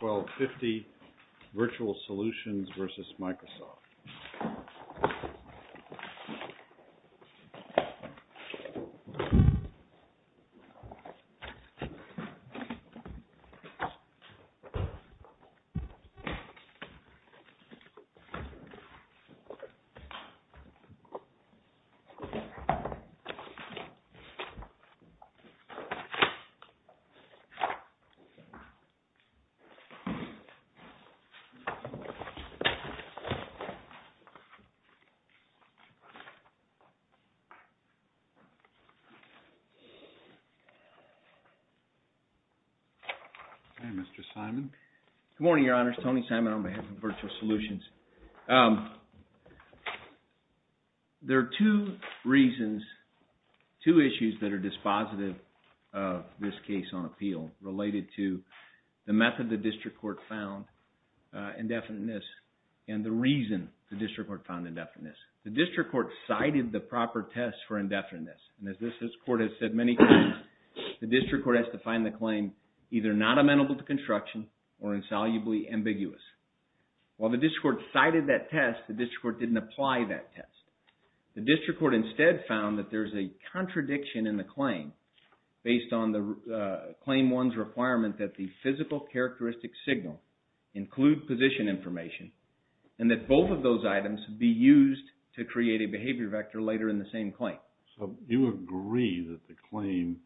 1250 VIRTUAL SOLUTIONS v. MICROSOFT Hi, Mr. Simon. Good morning, Your Honors. Tony Simon on behalf of VIRTUAL SOLUTIONS. There are two reasons, two issues that are dispositive of this case on appeal related to the method the district court found indefiniteness and the reason the district court found indefiniteness. The district court cited the proper test for indefiniteness. And as this court has said many times, the district court has to find the claim either not amenable to construction or insolubly ambiguous. While the district court cited that test, the district court didn't apply that test. The district court instead found that there's a contradiction in the claim based on the claim one's requirement that the physical characteristic signal include position information and that both of those items be used to create a behavior vector later in the same claim. So, you agree that the claim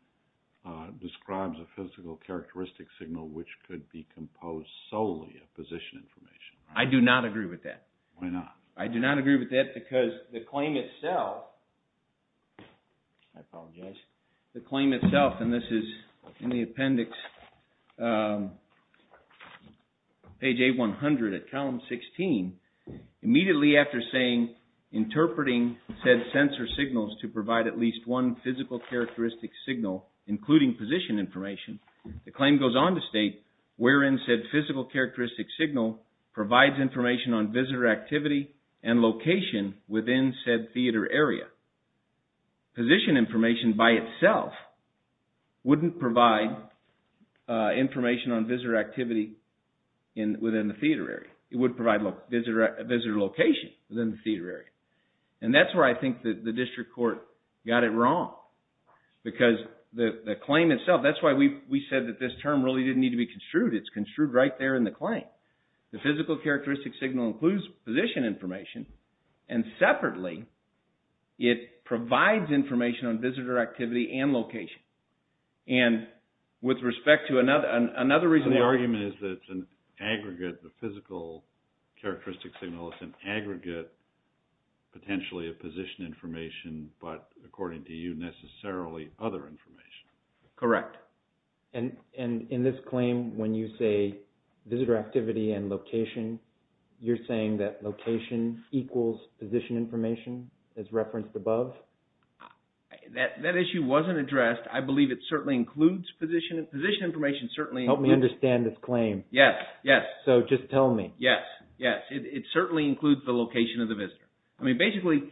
describes a physical characteristic signal which could be composed solely of position information, right? I do not agree with that. Why not? I do not agree with that because the claim itself, I apologize, the claim itself, and this is in the appendix, page A100 at column 16, immediately after saying, interpreting said sensor signals to provide at least one physical characteristic signal including position information, the claim goes on to state, wherein said physical characteristic signal provides information on visitor activity and location within said theater area. Position information by itself wouldn't provide information on visitor activity within the theater area. It wouldn't provide visitor location within the theater area. And that's where I think the district court got it wrong because the claim itself, that's why we said that this term really didn't need to be construed. It's construed right there in the claim. The physical characteristic signal includes position information and separately, it provides information on visitor activity and location. And with respect to another reason, the argument is that it's an aggregate, the physical characteristic signal is an aggregate, potentially a position information, but according to you, necessarily other information. Correct. And in this claim, when you say visitor activity and location, you're saying that location equals position information as referenced above? That issue wasn't addressed. I believe it certainly includes position information, certainly includes... Help me understand this claim. Yes, yes. So just tell me. Yes, yes. It certainly includes the location of the visitor. I mean, basically,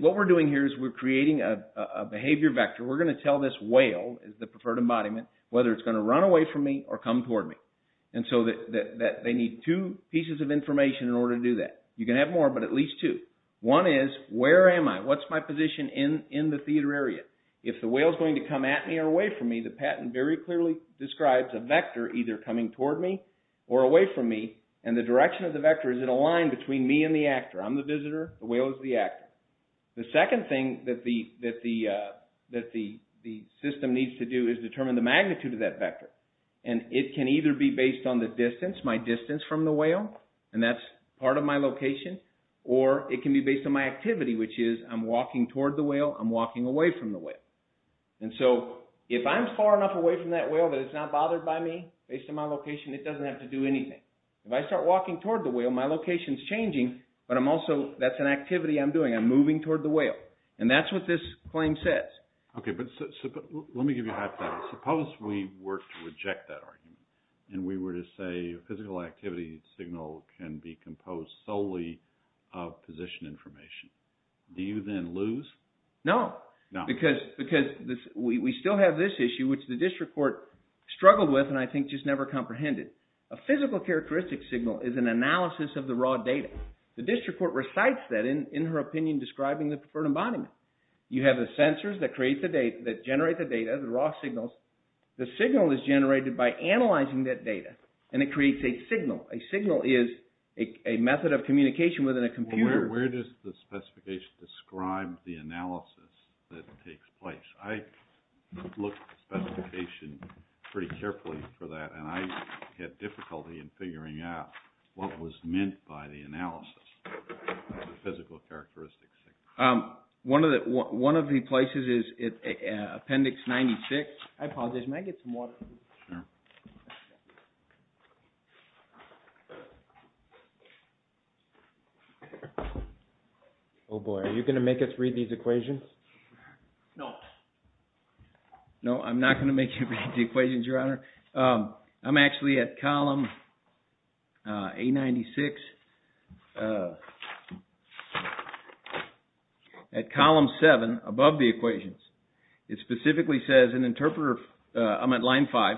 what we're doing here is we're creating a behavior vector. We're going to tell this whale, the preferred embodiment, whether it's going to run away from me or come toward me. And so they need two pieces of information in order to do that. You can have more, but at least two. One is, where am I? What's my position in the theater area? If the whale is going to come at me or away from me, the patent very clearly describes a vector either coming toward me or away from me, and the direction of the vector is it aligned between me and the actor. I'm the visitor, the whale is the actor. The second thing that the system needs to do is determine the magnitude of that vector. And it can either be based on the distance, my distance from the whale, and that's part of my location, or it can be based on my activity, which is I'm walking toward the whale, I'm walking away from the whale. And so if I'm far enough away from that whale that it's not bothered by me, based on my location, it doesn't have to do anything. If I start walking toward the whale, my location's changing, but I'm also... That's an activity I'm doing. I'm moving toward the whale. And that's what this claim says. Okay, but let me give you a hypothetical. Suppose we were to reject that argument, and we were to say a physical activity signal can be composed solely of position information. Do you then lose? No. No. Because we still have this issue, which the district court struggled with and I think just never comprehended. A physical characteristic signal is an analysis of the raw data. The raw data doesn't mean describing the preferred embodiment. You have the sensors that create the data, that generate the data, the raw signals. The signal is generated by analyzing that data, and it creates a signal. A signal is a method of communication within a computer. Well, where does the specification describe the analysis that takes place? I looked at the specification pretty carefully for that, and I had difficulty in figuring out what was meant by the analysis of the physical characteristic signal. One of the places is Appendix 96. I apologize. May I get some water? Sure. Oh, boy. Are you going to make us read these equations? No. No, I'm not going to make you read the equations, Your Honor. I'm actually at Column A96. At Column 7, above the equations, it specifically says, I'm at Line 5,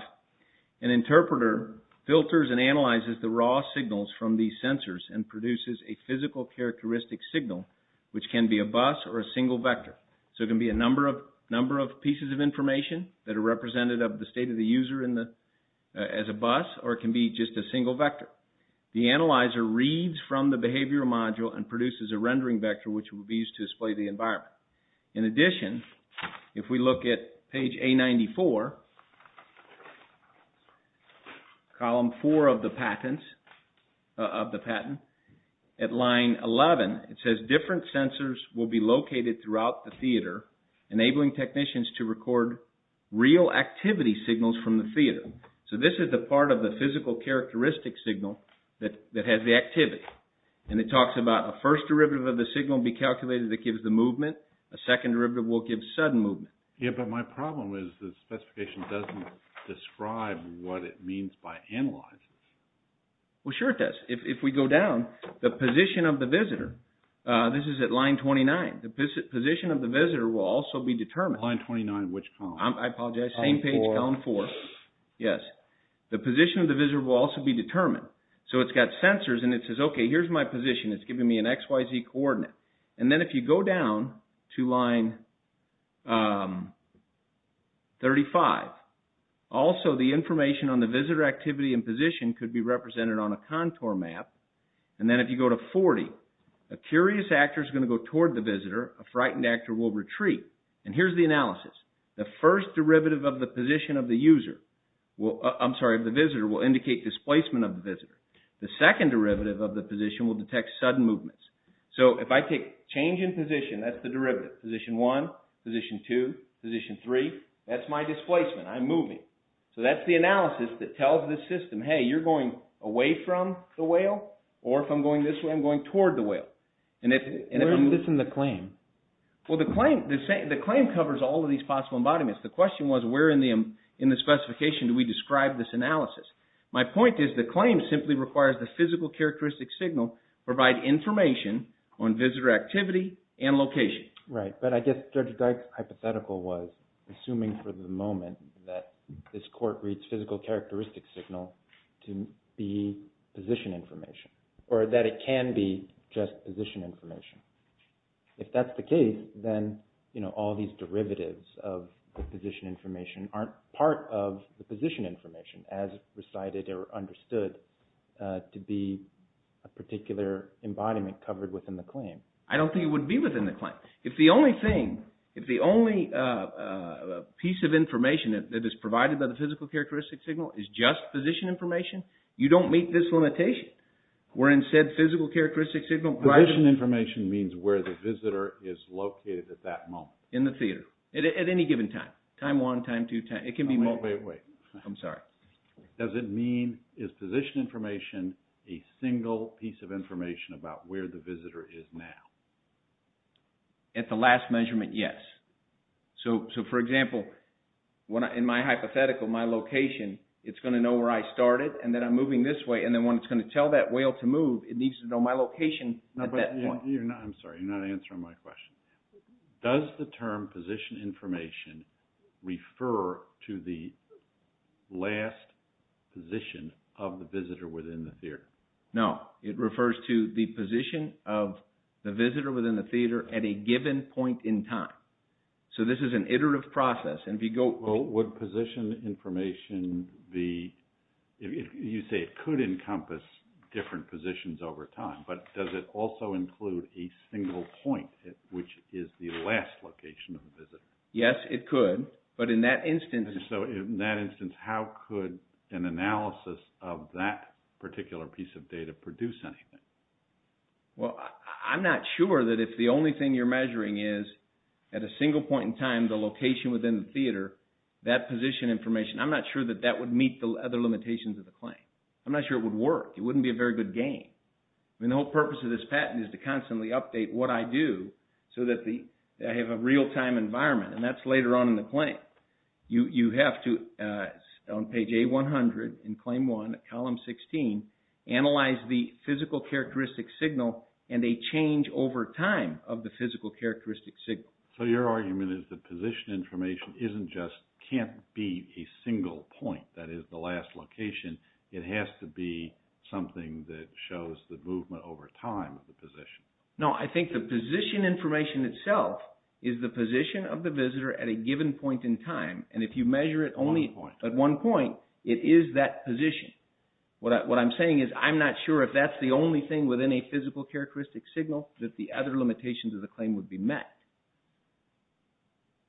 an interpreter filters and analyzes the raw signals from these sensors and produces a physical characteristic signal, which can be a bus or a single vector. So it can be a number of pieces of information that are represented of the state of the user as a bus, or it can be just a single vector. The analyzer reads from the behavioral module and produces a rendering vector, which would be used to display the environment. In addition, if we look at Page A94, Column 4 of the patent, at Line 11, it says, different sensors will be located throughout the theater, enabling technicians to record real activity signals from the theater. So this is the part of the physical characteristic signal that has the activity. And it talks about a first derivative of the signal will be calculated that gives the movement. A second derivative will give sudden movement. Yeah, but my problem is the specification doesn't describe what it means by analysis. Well, sure it does. If we go down, the position of the visitor, this is at Line 29. The position of the visitor will also be determined. Line 29, which column? I apologize, same page, Column 4. Yes. The position of the visitor will also be determined. So it's got sensors and it says, okay, here's my position. It's giving me an XYZ coordinate. And then if you go down to Line 35, also the information on the visitor activity and position could be represented on a contour map. And then if you go to 40, a curious actor is going to go toward the visitor, a frightened actor will retreat. And here's the analysis. The first derivative of the position of the user, I'm sorry, of the visitor will indicate displacement of the visitor. The second derivative of the position will detect sudden movements. So if I take change in position, that's the derivative, position 1, position 2, position 3, that's my displacement, I'm moving. So that's the analysis that tells the system, hey, you're going away from the whale, or if I'm going this way, I'm going toward the whale. Where is this in the claim? Well, the claim covers all of these possible embodiments. The question was, where in the specification do we describe this analysis? My point is, the claim simply requires the physical characteristic signal provide information on visitor activity and location. Right, but I guess Judge Dyke's hypothetical was assuming for the moment that this court reads physical characteristic signal to be position information, or that it can be just position information. If that's the case, then all these derivatives of the position information aren't part of the position information as recited or understood to be a particular embodiment covered within the claim. I don't think it would be within the claim. If the only thing, if the only piece of information that is provided by the physical characteristic signal is just position information, you don't meet this limitation. Where in said physical characteristic signal... Position information means where the visitor is located at that moment. In the theater. At any given time. Time 1, time 2, time... Wait, wait, wait. I'm sorry. Does it mean, is position information a single piece of information about where the visitor is now? At the last measurement, yes. So, for example, in my hypothetical, my location, it's going to know where I started, and then I'm moving this way, and then when it's going to tell that whale to move, it needs to know my location at that point. I'm sorry, you're not answering my question. Does the term position information refer to the last position of the visitor within the theater? No, it refers to the position of the visitor within the theater at a given point in time. So, this is an iterative process, and if you go... Well, would position information be... You say it could encompass different positions over time, but does it also include a single point, which is the last location of the visitor? Yes, it could, but in that instance... Well, I'm not sure that if the only thing you're measuring is at a single point in time, the location within the theater, that position information, I'm not sure that that would meet the other limitations of the claim. I'm not sure it would work. It wouldn't be a very good game. I mean, the whole purpose of this patent is to constantly update what I do so that I have a real-time environment, and that's later on in the claim. You have to, on page A-100 in Claim 1, column 16, analyze the physical characteristic signal and a change over time of the physical characteristic signal. So, your argument is that position information isn't just... can't be a single point, that is the last location. It has to be something that shows the movement over time of the position. No, I think the position information itself is the position of the visitor at a given point in time, and if you measure it only at one point, it is that position. What I'm saying is, I'm not sure if that's the only thing within a physical characteristic signal that the other limitations of the claim would be met.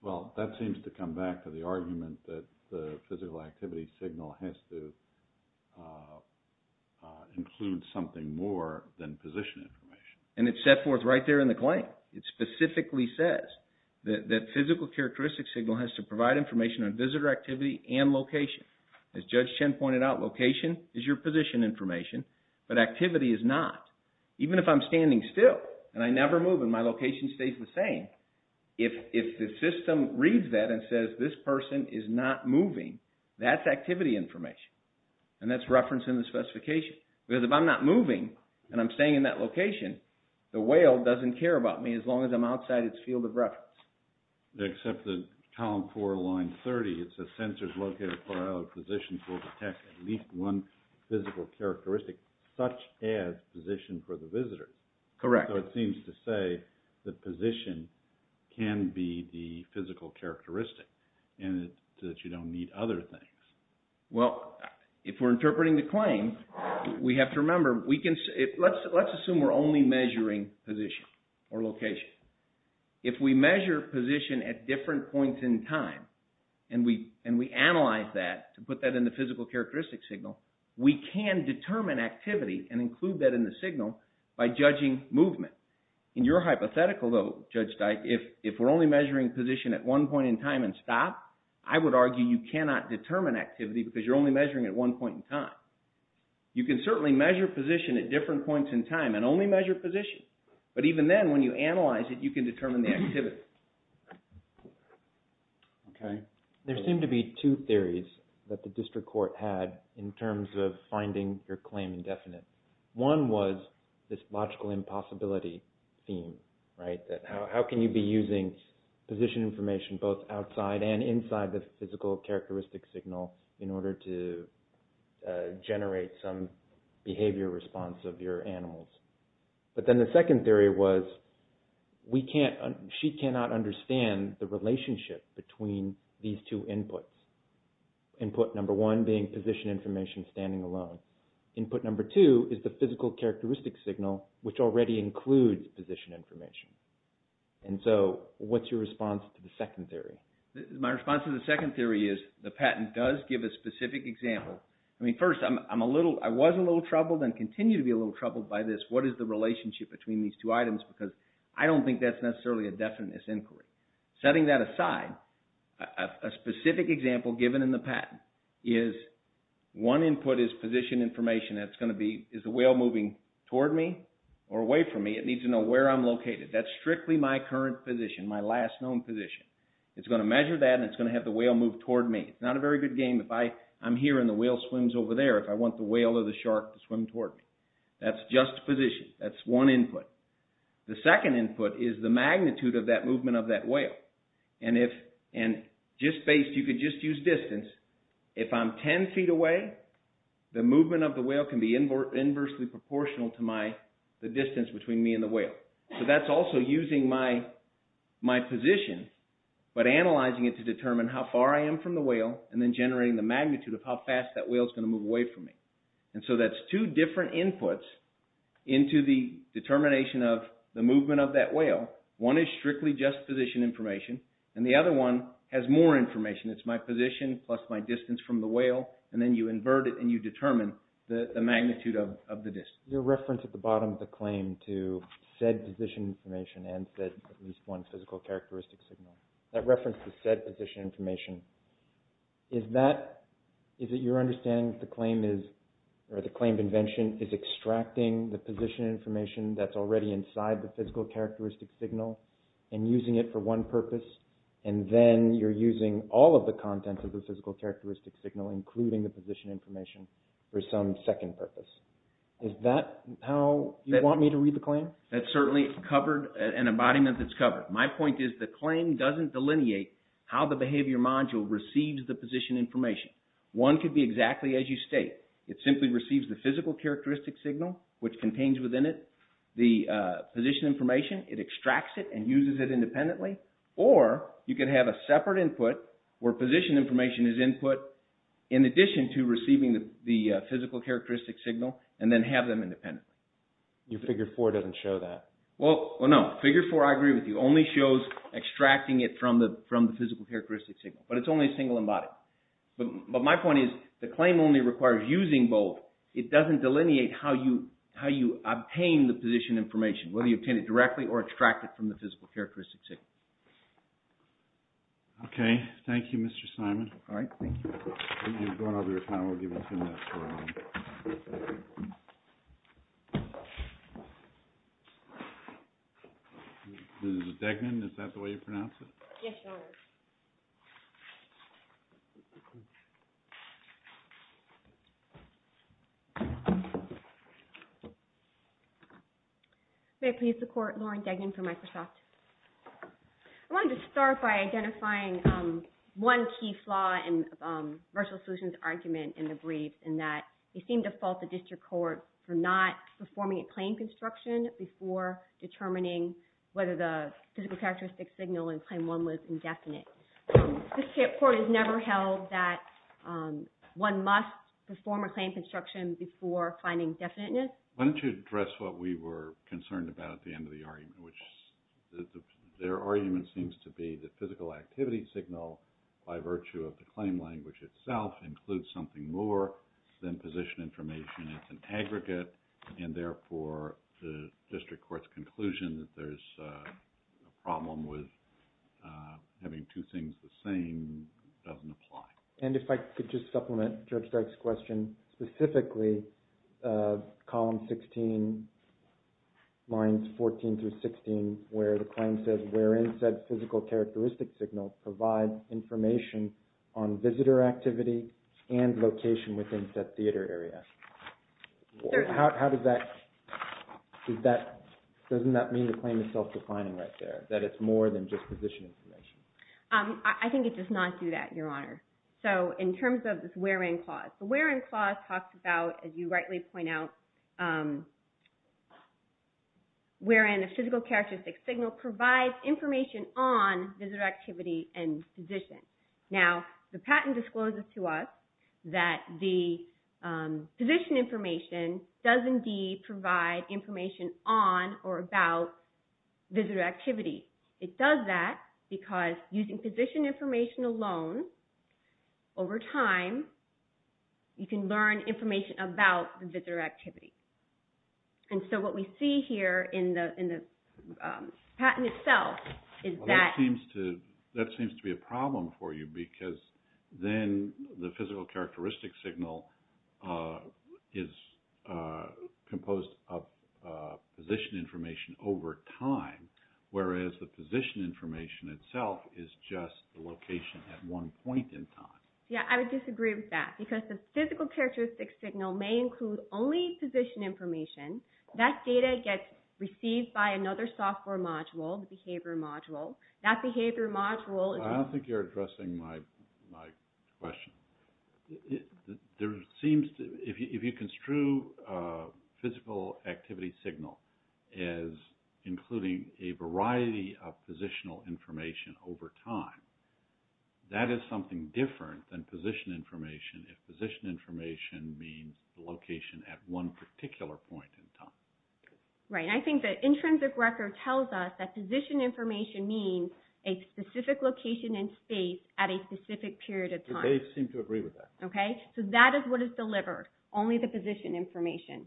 Well, that seems to come back to the argument that the physical activity signal has to include something more than position information. And it's set forth right there in the claim. It specifically says that physical characteristic signal has to provide information on visitor activity and location. As Judge Chen pointed out, location is your position information, but activity is not. Even if I'm standing still, and I never move, and my location stays the same, if the system reads that and says, this person is not moving, that's activity information, and that's referenced in the specification. Because if I'm not moving, and I'm staying in that location, the whale doesn't care about me as long as I'm outside its field of reference. Except that column 4, line 30, it says sensors located for all positions will detect at least one physical characteristic, such as position for the visitor. Correct. So it seems to say that position can be the physical characteristic, and that you don't need other things. Well, if we're interpreting the claim, we have to remember, let's assume we're only measuring position or location. If we measure position at different points in time, and we analyze that to put that in the physical characteristic signal, we can determine activity and include that in the signal by judging movement. In your hypothetical, though, Judge Dyke, if we're only measuring position at one point in time and stop, I would argue you cannot determine activity because you're only measuring at one point in time. You can certainly measure position at different points in time and only measure position. But even then, when you analyze it, you can determine the activity. Okay. There seem to be two theories that the district court had in terms of finding your claim indefinite. One was this logical impossibility theme, right? How can you be using position information both outside and inside the physical characteristic signal in order to generate some behavior response of your animals? But then the second theory was, she cannot understand the relationship between these two inputs. Input number one being position information standing alone. Input number two is the physical characteristic signal, which already includes position information. And so, what's your response to the second theory? My response to the second theory is, the patent does give a specific example. I mean, I was a little troubled and continue to be a little troubled by this. What is the relationship between these two items? Because I don't think that's necessarily a definite inquiry. Setting that aside, a specific example given in the patent is one input is position information. Is the whale moving toward me or away from me? It needs to know where I'm located. That's strictly my current position, my last known position. It's going to measure that and it's going to have the whale move toward me. It's not a very good game. If I'm here and the whale swims over there, if I want the whale or the shark to swim toward me, that's just position. That's one input. The second input is the magnitude of that movement of that whale. And just based, you could just use distance. If I'm 10 feet away, the movement of the whale can be inversely proportional to the distance between me and the whale. So that's also using my position, but analyzing it to determine how far I am from the whale and then generating the magnitude of how fast that whale is going to move away from me. And so that's two different inputs into the determination of the movement of that whale. One is strictly just position information and the other one has more information. It's my position plus my distance from the whale and then you invert it and you determine the magnitude of the distance. Your reference at the bottom of the claim to said position information and said at least one physical characteristic signal, that reference to said position information, is that, is it your understanding that the claim is or the claim of invention is extracting the position information that's already inside the physical characteristic signal and using it for one purpose and then you're using all of the contents of the physical characteristic signal, including the position information, for some second purpose. Is that how you want me to read the claim? That's certainly covered and embodiment that's covered. My point is the claim doesn't delineate how the behavior module receives the position information. One could be exactly as you state. It simply receives the physical characteristic signal, which contains within it the position information. It extracts it and uses it independently or you can have a separate input where position information is input in addition to receiving the physical characteristic signal and then have them independently. Your figure four doesn't show that. Well, no. Figure four, I agree with you, only shows extracting it from the physical characteristic signal, but it's only single embodied. But my point is the claim only requires using both. It doesn't delineate how you obtain the position information, whether you obtain it directly or extract it from the physical characteristic signal. Okay. Thank you, Mr. Simon. All right. Thank you. Mrs. Degnan, is that the way you pronounce it? Yes, Your Honor. May I please support Lauren Degnan from Microsoft? I wanted to start by identifying one key flaw in virtual solutions argument in the brief in that it seemed to fault the district court for not performing a claim construction before determining whether the physical characteristic signal in definite. The district court has never held that one must perform a claim construction before finding definiteness. Why don't you address what we were concerned about at the end of the argument, which their argument seems to be the physical activity signal by virtue of the claim language itself includes something more than position information. It's an aggregate and therefore the district court's conclusion that there's a problem with having two things the same doesn't apply. And if I could just supplement Judge Degg's question specifically column 16 lines 14 through 16 where the claim says wherein said physical characteristic signal provides information on visitor activity and location within said theater area. Doesn't that mean the claim is self-defining right there that it's more than just position information? I think it does not do that, Your Honor. So in terms of this wherein clause, the wherein clause talks about, as you rightly point out, wherein a physical characteristic signal provides information on visitor activity and position. Now the patent discloses to us that the position information does indeed provide information on or about visitor activity. It does that because using position information alone over time you can learn information about the visitor activity. And so what we see here in the patent itself is that... That seems to be a problem for you because then the physical characteristic signal is composed of position information over time whereas the position information itself is just the location at one point in time. Yeah, I would disagree with that because the physical characteristic signal may include only position information. That data gets received by another software module, the behavior module. That behavior module... I don't think you're addressing my question. If you construe a physical activity signal as including a variety of positional information over time, that is something different than position information if position information means the location at one particular point in time. Right, and I think that intrinsic record tells us that position information means a specific location in space at a specific period of time. They seem to agree with that. Okay, so that is what is delivered, only the position information.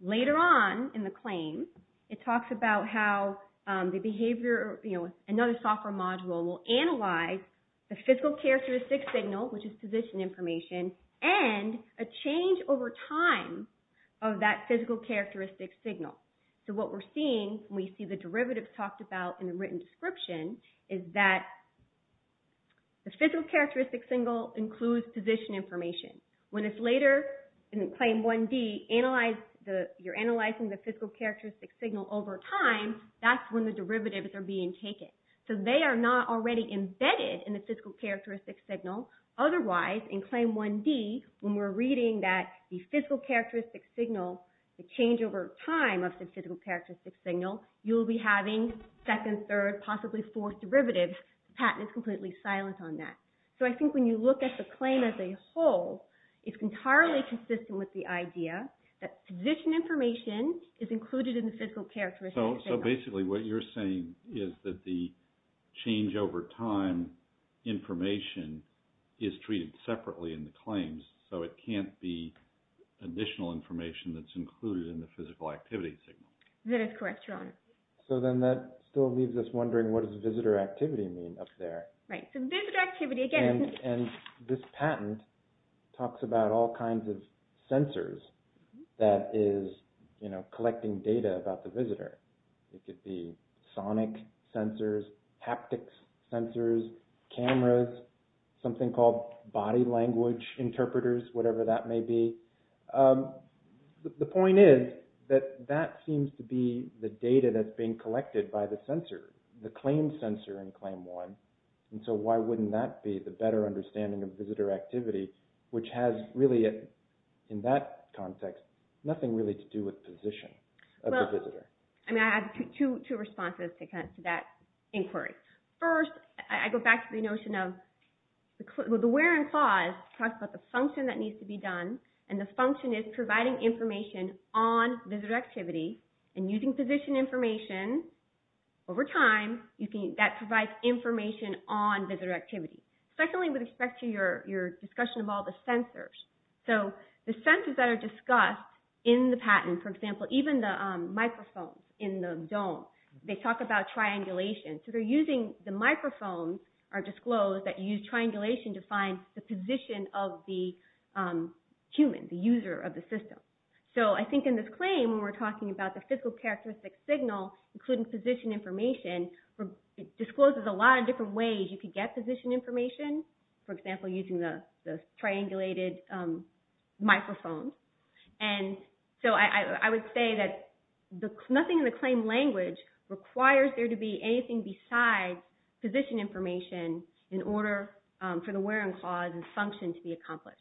Later on in the claim it talks about how another software module will analyze the physical characteristic signal, which is position information, and a change over time of that physical characteristic signal. So what we're seeing when we see the derivatives talked about in the written description is that the physical characteristic signal includes position information. When it's later in claim 1D, you're analyzing the physical characteristic signal over time, that's when the derivatives are being taken. So they are not already embedded in the physical characteristic signal, the change over time of the physical characteristic signal, you'll be having second, third, possibly fourth derivatives. The patent is completely silent on that. So I think when you look at the claim as a whole, it's entirely consistent with the idea that position information is included in the physical characteristic signal. So basically what you're saying is that the information that's included in the physical activity signal. That is correct, Your Honor. So then that still leaves us wondering, what does visitor activity mean up there? Right, so visitor activity again... And this patent talks about all kinds of sensors that is, you know, collecting data about the visitor. It could be sonic sensors, haptics sensors, cameras, something called body language interpreters, whatever that may be. The point is that that seems to be the data that's being collected by the sensor, the claim sensor in claim 1. And so why wouldn't that be the better understanding of visitor activity, which has really, in that context, nothing really to do with position of the visitor? Well, I mean, I have two responses to that inquiry. First, I go back to the where and clause. It talks about the function that needs to be done, and the function is providing information on visitor activity. And using position information over time, that provides information on visitor activity. Secondly, with respect to your discussion of all the sensors. So the sensors that are discussed in the patent, for example, even the microphones in the dome, they talk about triangulation to find the position of the human, the user of the system. So I think in this claim, when we're talking about the physical characteristic signal, including position information, it discloses a lot of different ways you could get position information, for example, using the triangulated microphone. And so I would say that nothing in the claim language requires there to be anything besides position information in order for the where and clause and function to be accomplished.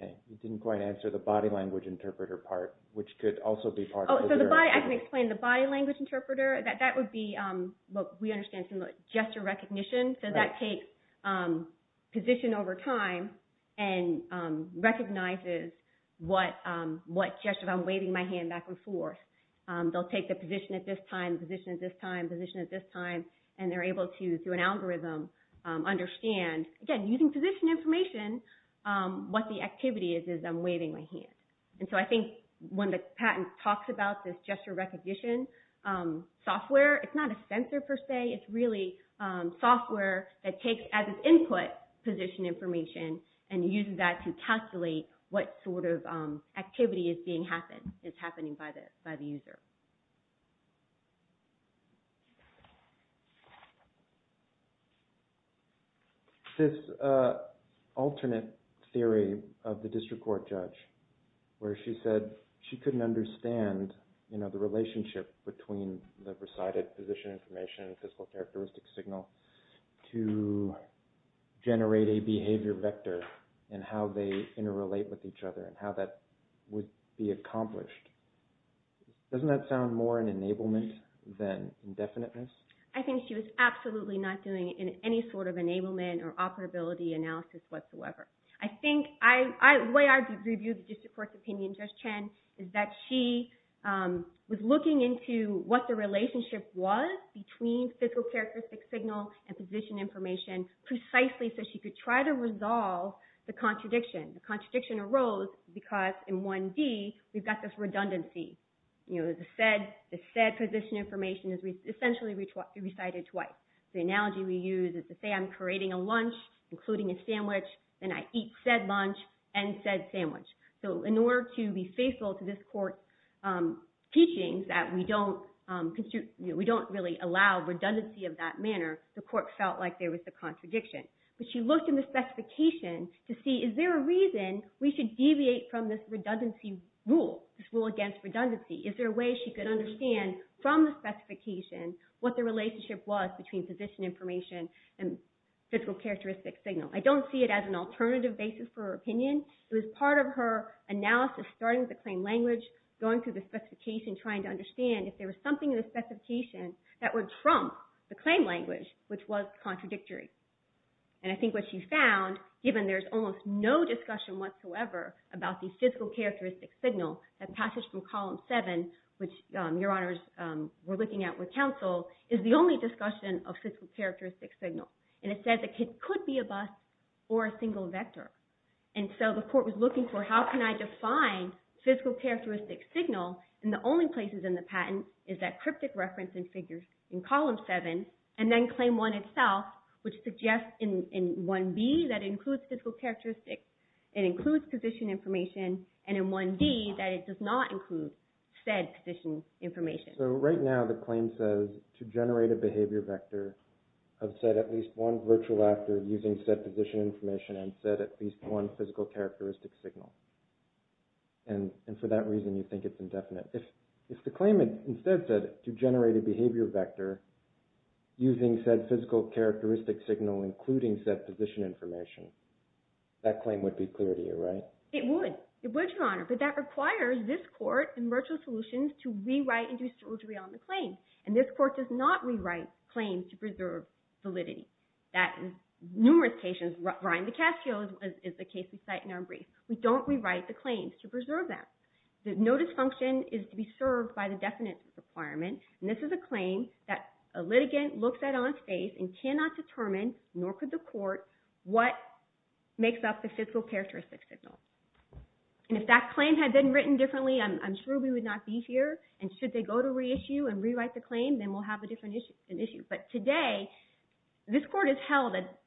Okay, you didn't quite answer the body language interpreter part, which could also be part of... Oh, so I can explain the body language interpreter. That would be, we understand some gesture recognition. So that takes position over time and recognizes what gesture, I'm waving my hand back and forth. They'll take the position at this time, position at this time, position at this time, and they're able to, through an algorithm, understand, again, using position information, what the activity is, is I'm waving my hand. And so I think when the patent talks about this gesture recognition software, it's not a sensor per se, it's really software that takes as it's happening by the user. This alternate theory of the district court judge, where she said she couldn't understand the relationship between the presided position information, physical characteristic signal, to generate a behavior vector and how they interrelate with each other and how that would be accomplished. Doesn't that sound more an enablement than indefiniteness? I think she was absolutely not doing any sort of enablement or operability analysis whatsoever. I think, the way I view the district court's opinion, Judge Chen, is that she was looking into what the relationship was between physical characteristic signal and position information precisely so she could try to resolve the contradiction. The contradiction arose because in 1D, we've got this redundancy. The said position information is essentially recited twice. The analogy we use is to say I'm creating a lunch, including a sandwich, then I eat said lunch and said sandwich. So in order to be faithful to this court's teachings that we don't really allow redundancy of that manner, the court felt like there was a contradiction. But she looked in the specification to see is there a reason we should deviate from this redundancy rule, this rule against redundancy? Is there a way she could understand from the specification what the relationship was between position information and physical characteristic signal? I don't see it as an alternative basis for her opinion. It was part of her analysis, starting with the claim language, going through the specification, trying to understand if there was something in the specification that would trump the claim language which was contradictory. And I think what she found, given there's almost no discussion whatsoever about the physical characteristic signal, that passage from column 7, which your honors were looking at with counsel, is the only discussion of physical characteristic signal. And it says it could be a bus or a single vector. And so the court was looking for how can I define physical characteristic signal, and the only places in the patent is that cryptic reference in figures in column 7, and then claim 1 itself, which suggests in 1b that includes physical characteristics, it includes position information, and in 1d that it does not include said position information. So right now the claim says to generate a behavior vector of said at least one virtual actor using said position information and said at least one physical characteristic signal. And for that reason you think it's indefinite. If the claim instead said to generate a behavior vector using said physical characteristic signal including said position information, that claim would be clear to you, right? It would. It would, your honor. But that requires this court in virtual solutions to rewrite and do surgery on the claim. And this court does not rewrite claims to preserve validity. That in numerous cases, Ryan DiCascio is the case we cite in our brief. We don't rewrite the claims to preserve that. The notice function is to be that a litigant looks at on its face and cannot determine, nor could the court, what makes up the physical characteristic signal. And if that claim had been written differently, I'm sure we would not be here. And should they go to reissue and rewrite the claim, then we'll have a different issue. But today this court has held that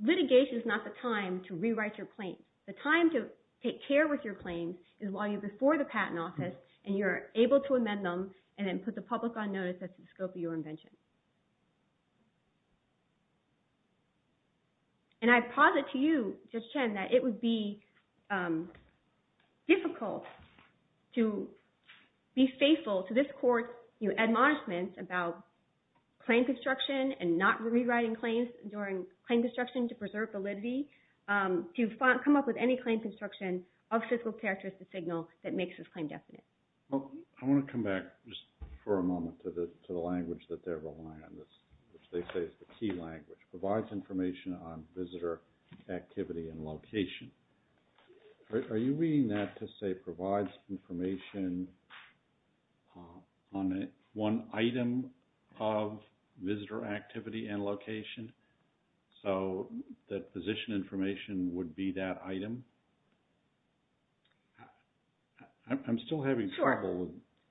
litigation is not the time to rewrite your claim. The time to take care with your claims is while you're before the patent office and you're able to amend them and then put the public on notice that's the scope of your invention. And I posit to you, Judge Chen, that it would be difficult to be faithful to this court's admonishments about claim construction and not rewriting claims during claim construction to preserve validity to come up with any claim construction of physical characteristic signal that makes this claim definite. I want to come back just for a moment to the language that they're relying on, which they say is the key language, provides information on visitor activity and location. Are you meaning that to say provides information on one item of visitor activity and location so that position information would be that item? I'm still having trouble. Sure.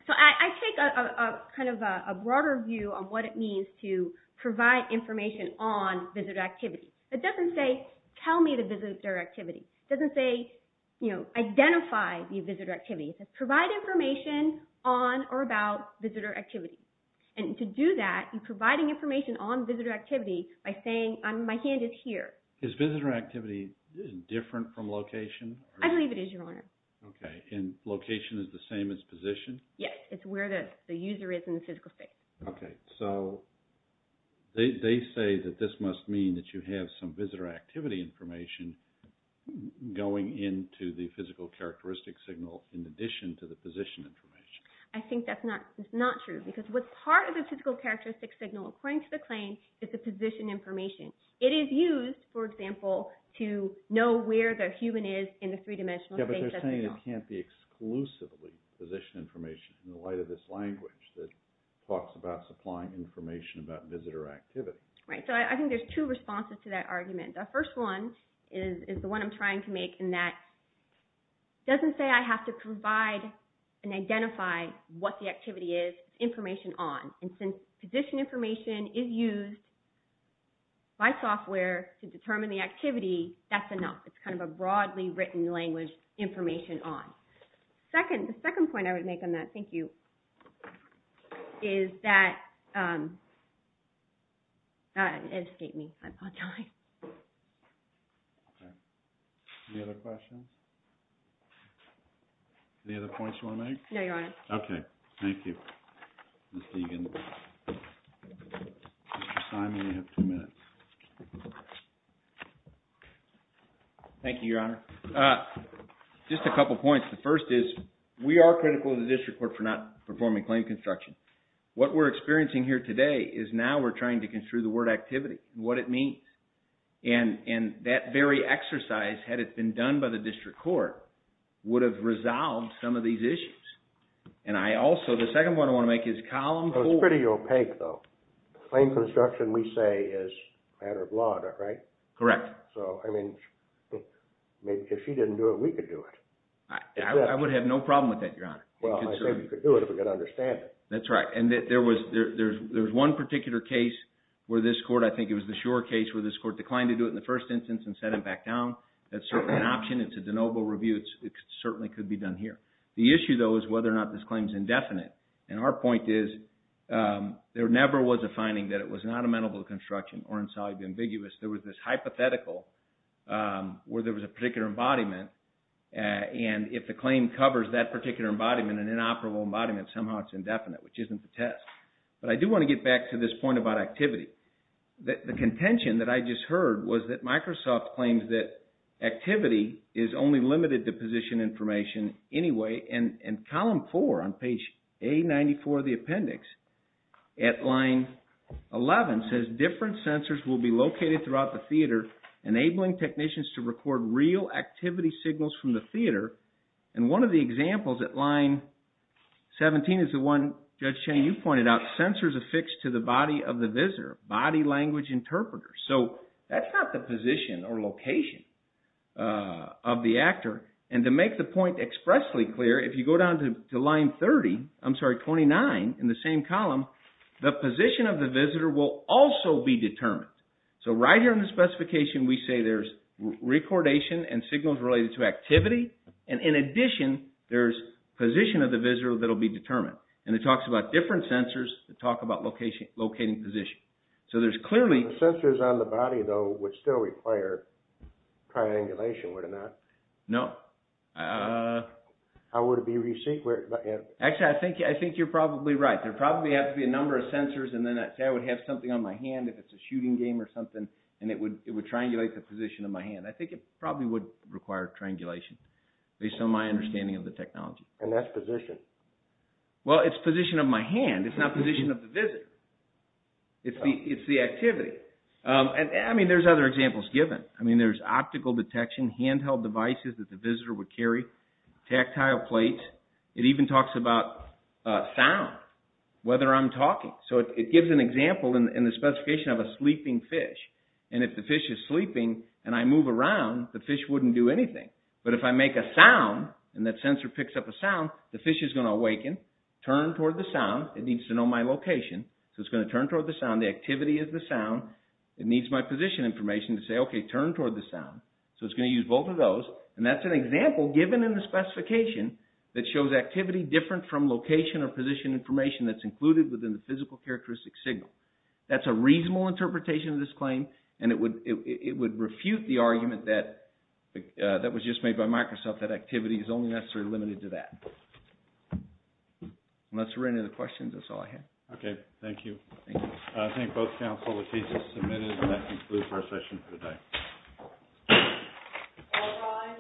So I take a kind of a broader view on what it means to provide information on visitor activity. It doesn't say tell me the visitor activity. It doesn't say identify the visitor activity. It says provide information on or about visitor activity. And to do that, you're providing information on visitor activity by saying my hand is here. Is visitor activity different from location? I believe it is, Your Honor. Okay. And location is the same as position? Yes. It's where the user is in the physical space. Okay. So they say that this must mean that you have some visitor activity information going into the physical characteristic signal in addition to the position information. I think that's not true because what's part of the physical characteristic signal, according to the claim, is the position information. It is used, for example, to know where the human is in the three-dimensional space. But they're saying it can't be exclusively position information in the light of this language that talks about supplying information about visitor activity. Right. So I think there's two responses to that argument. The first one is the one I'm trying to make and that doesn't say I have to provide and identify what the activity is. It's information on. And since position information is used by software to determine the activity, that's enough. It's kind of a broadly written language, information on. Second, the second point I would make on that, thank you, is that, it escaped me. I'm on time. Okay. Any other questions? Any other points you want to make? No, Your Honor. Okay. Thank you, Ms. Deegan. Mr. Simon, you have two minutes. Thank you, Your Honor. Just a couple points. The first is we are critical of the district court for not performing claim construction. What we're experiencing here today is now we're trying to meet. And that very exercise, had it been done by the district court, would have resolved some of these issues. And I also, the second one I want to make is column four. It's pretty opaque though. Claim construction, we say, is a matter of law, right? Correct. So, I mean, if she didn't do it, we could do it. I would have no problem with that, Your Honor. Well, I think we could do it if we could understand it. That's right. And there was one particular case where this court, I think it was a case where this court declined to do it in the first instance and set it back down. That's certainly an option. It's a de novo review. It certainly could be done here. The issue though is whether or not this claim is indefinite. And our point is there never was a finding that it was not amenable to construction or insolubly ambiguous. There was this hypothetical where there was a particular embodiment. And if the claim covers that particular embodiment, an inoperable embodiment, somehow it's indefinite, which isn't the test. But I do want to get back to this point about activity. The contention that I just heard was that Microsoft claims that activity is only limited to position information anyway. And column four on page A-94 of the appendix at line 11 says different sensors will be located throughout the theater enabling technicians to record real activity signals from the theater. And one of the examples at line 17 is the one, Judge Shane, you pointed out, sensors affixed to the body of the visitor, body language interpreters. So that's not the position or location of the actor. And to make the point expressly clear, if you go down to line 30, I'm sorry, 29 in the same column, the position of the visitor will also be determined. So right here in the specification, we say there's recordation and signals related to activity. And in addition, there's position of the visitor that will be determined. And it talks about different sensors that talk about location, locating position. So there's clearly... Sensors on the body, though, would still require triangulation, would it not? No. How would it be received? Actually, I think you're probably right. There probably have to be a number of sensors. And then I would have something on my hand if it's a shooting game or something. And it would triangulate the position of my hand. I think it probably would require triangulation based on my understanding of the technology. And that's position. Well, it's position of my hand. It's not position of the visitor. It's the activity. I mean, there's other examples given. I mean, there's optical detection, handheld devices that the visitor would carry, tactile plates. It even talks about sound, whether I'm talking. So it gives an example in the specification of a sleeping fish. And if the fish is sleeping and I move around, the fish wouldn't do anything. But if I make a sound and that sensor picks up a sound, the fish is going to awaken, turn toward the sound. It needs to know my location, so it's going to turn toward the sound. The activity is the sound. It needs my position information to say, okay, turn toward the sound. So it's going to use both of those. And that's an example given in the specification that shows activity different from location or position information that's included within the physical characteristic signal. That's a reasonable interpretation of this claim, and it would refute the argument that was just made by Microsoft that activity is only necessarily limited to that. Unless there are any other questions, that's all I have. Okay. Thank you. I thank both counsel. The case is submitted, and that concludes our session for today.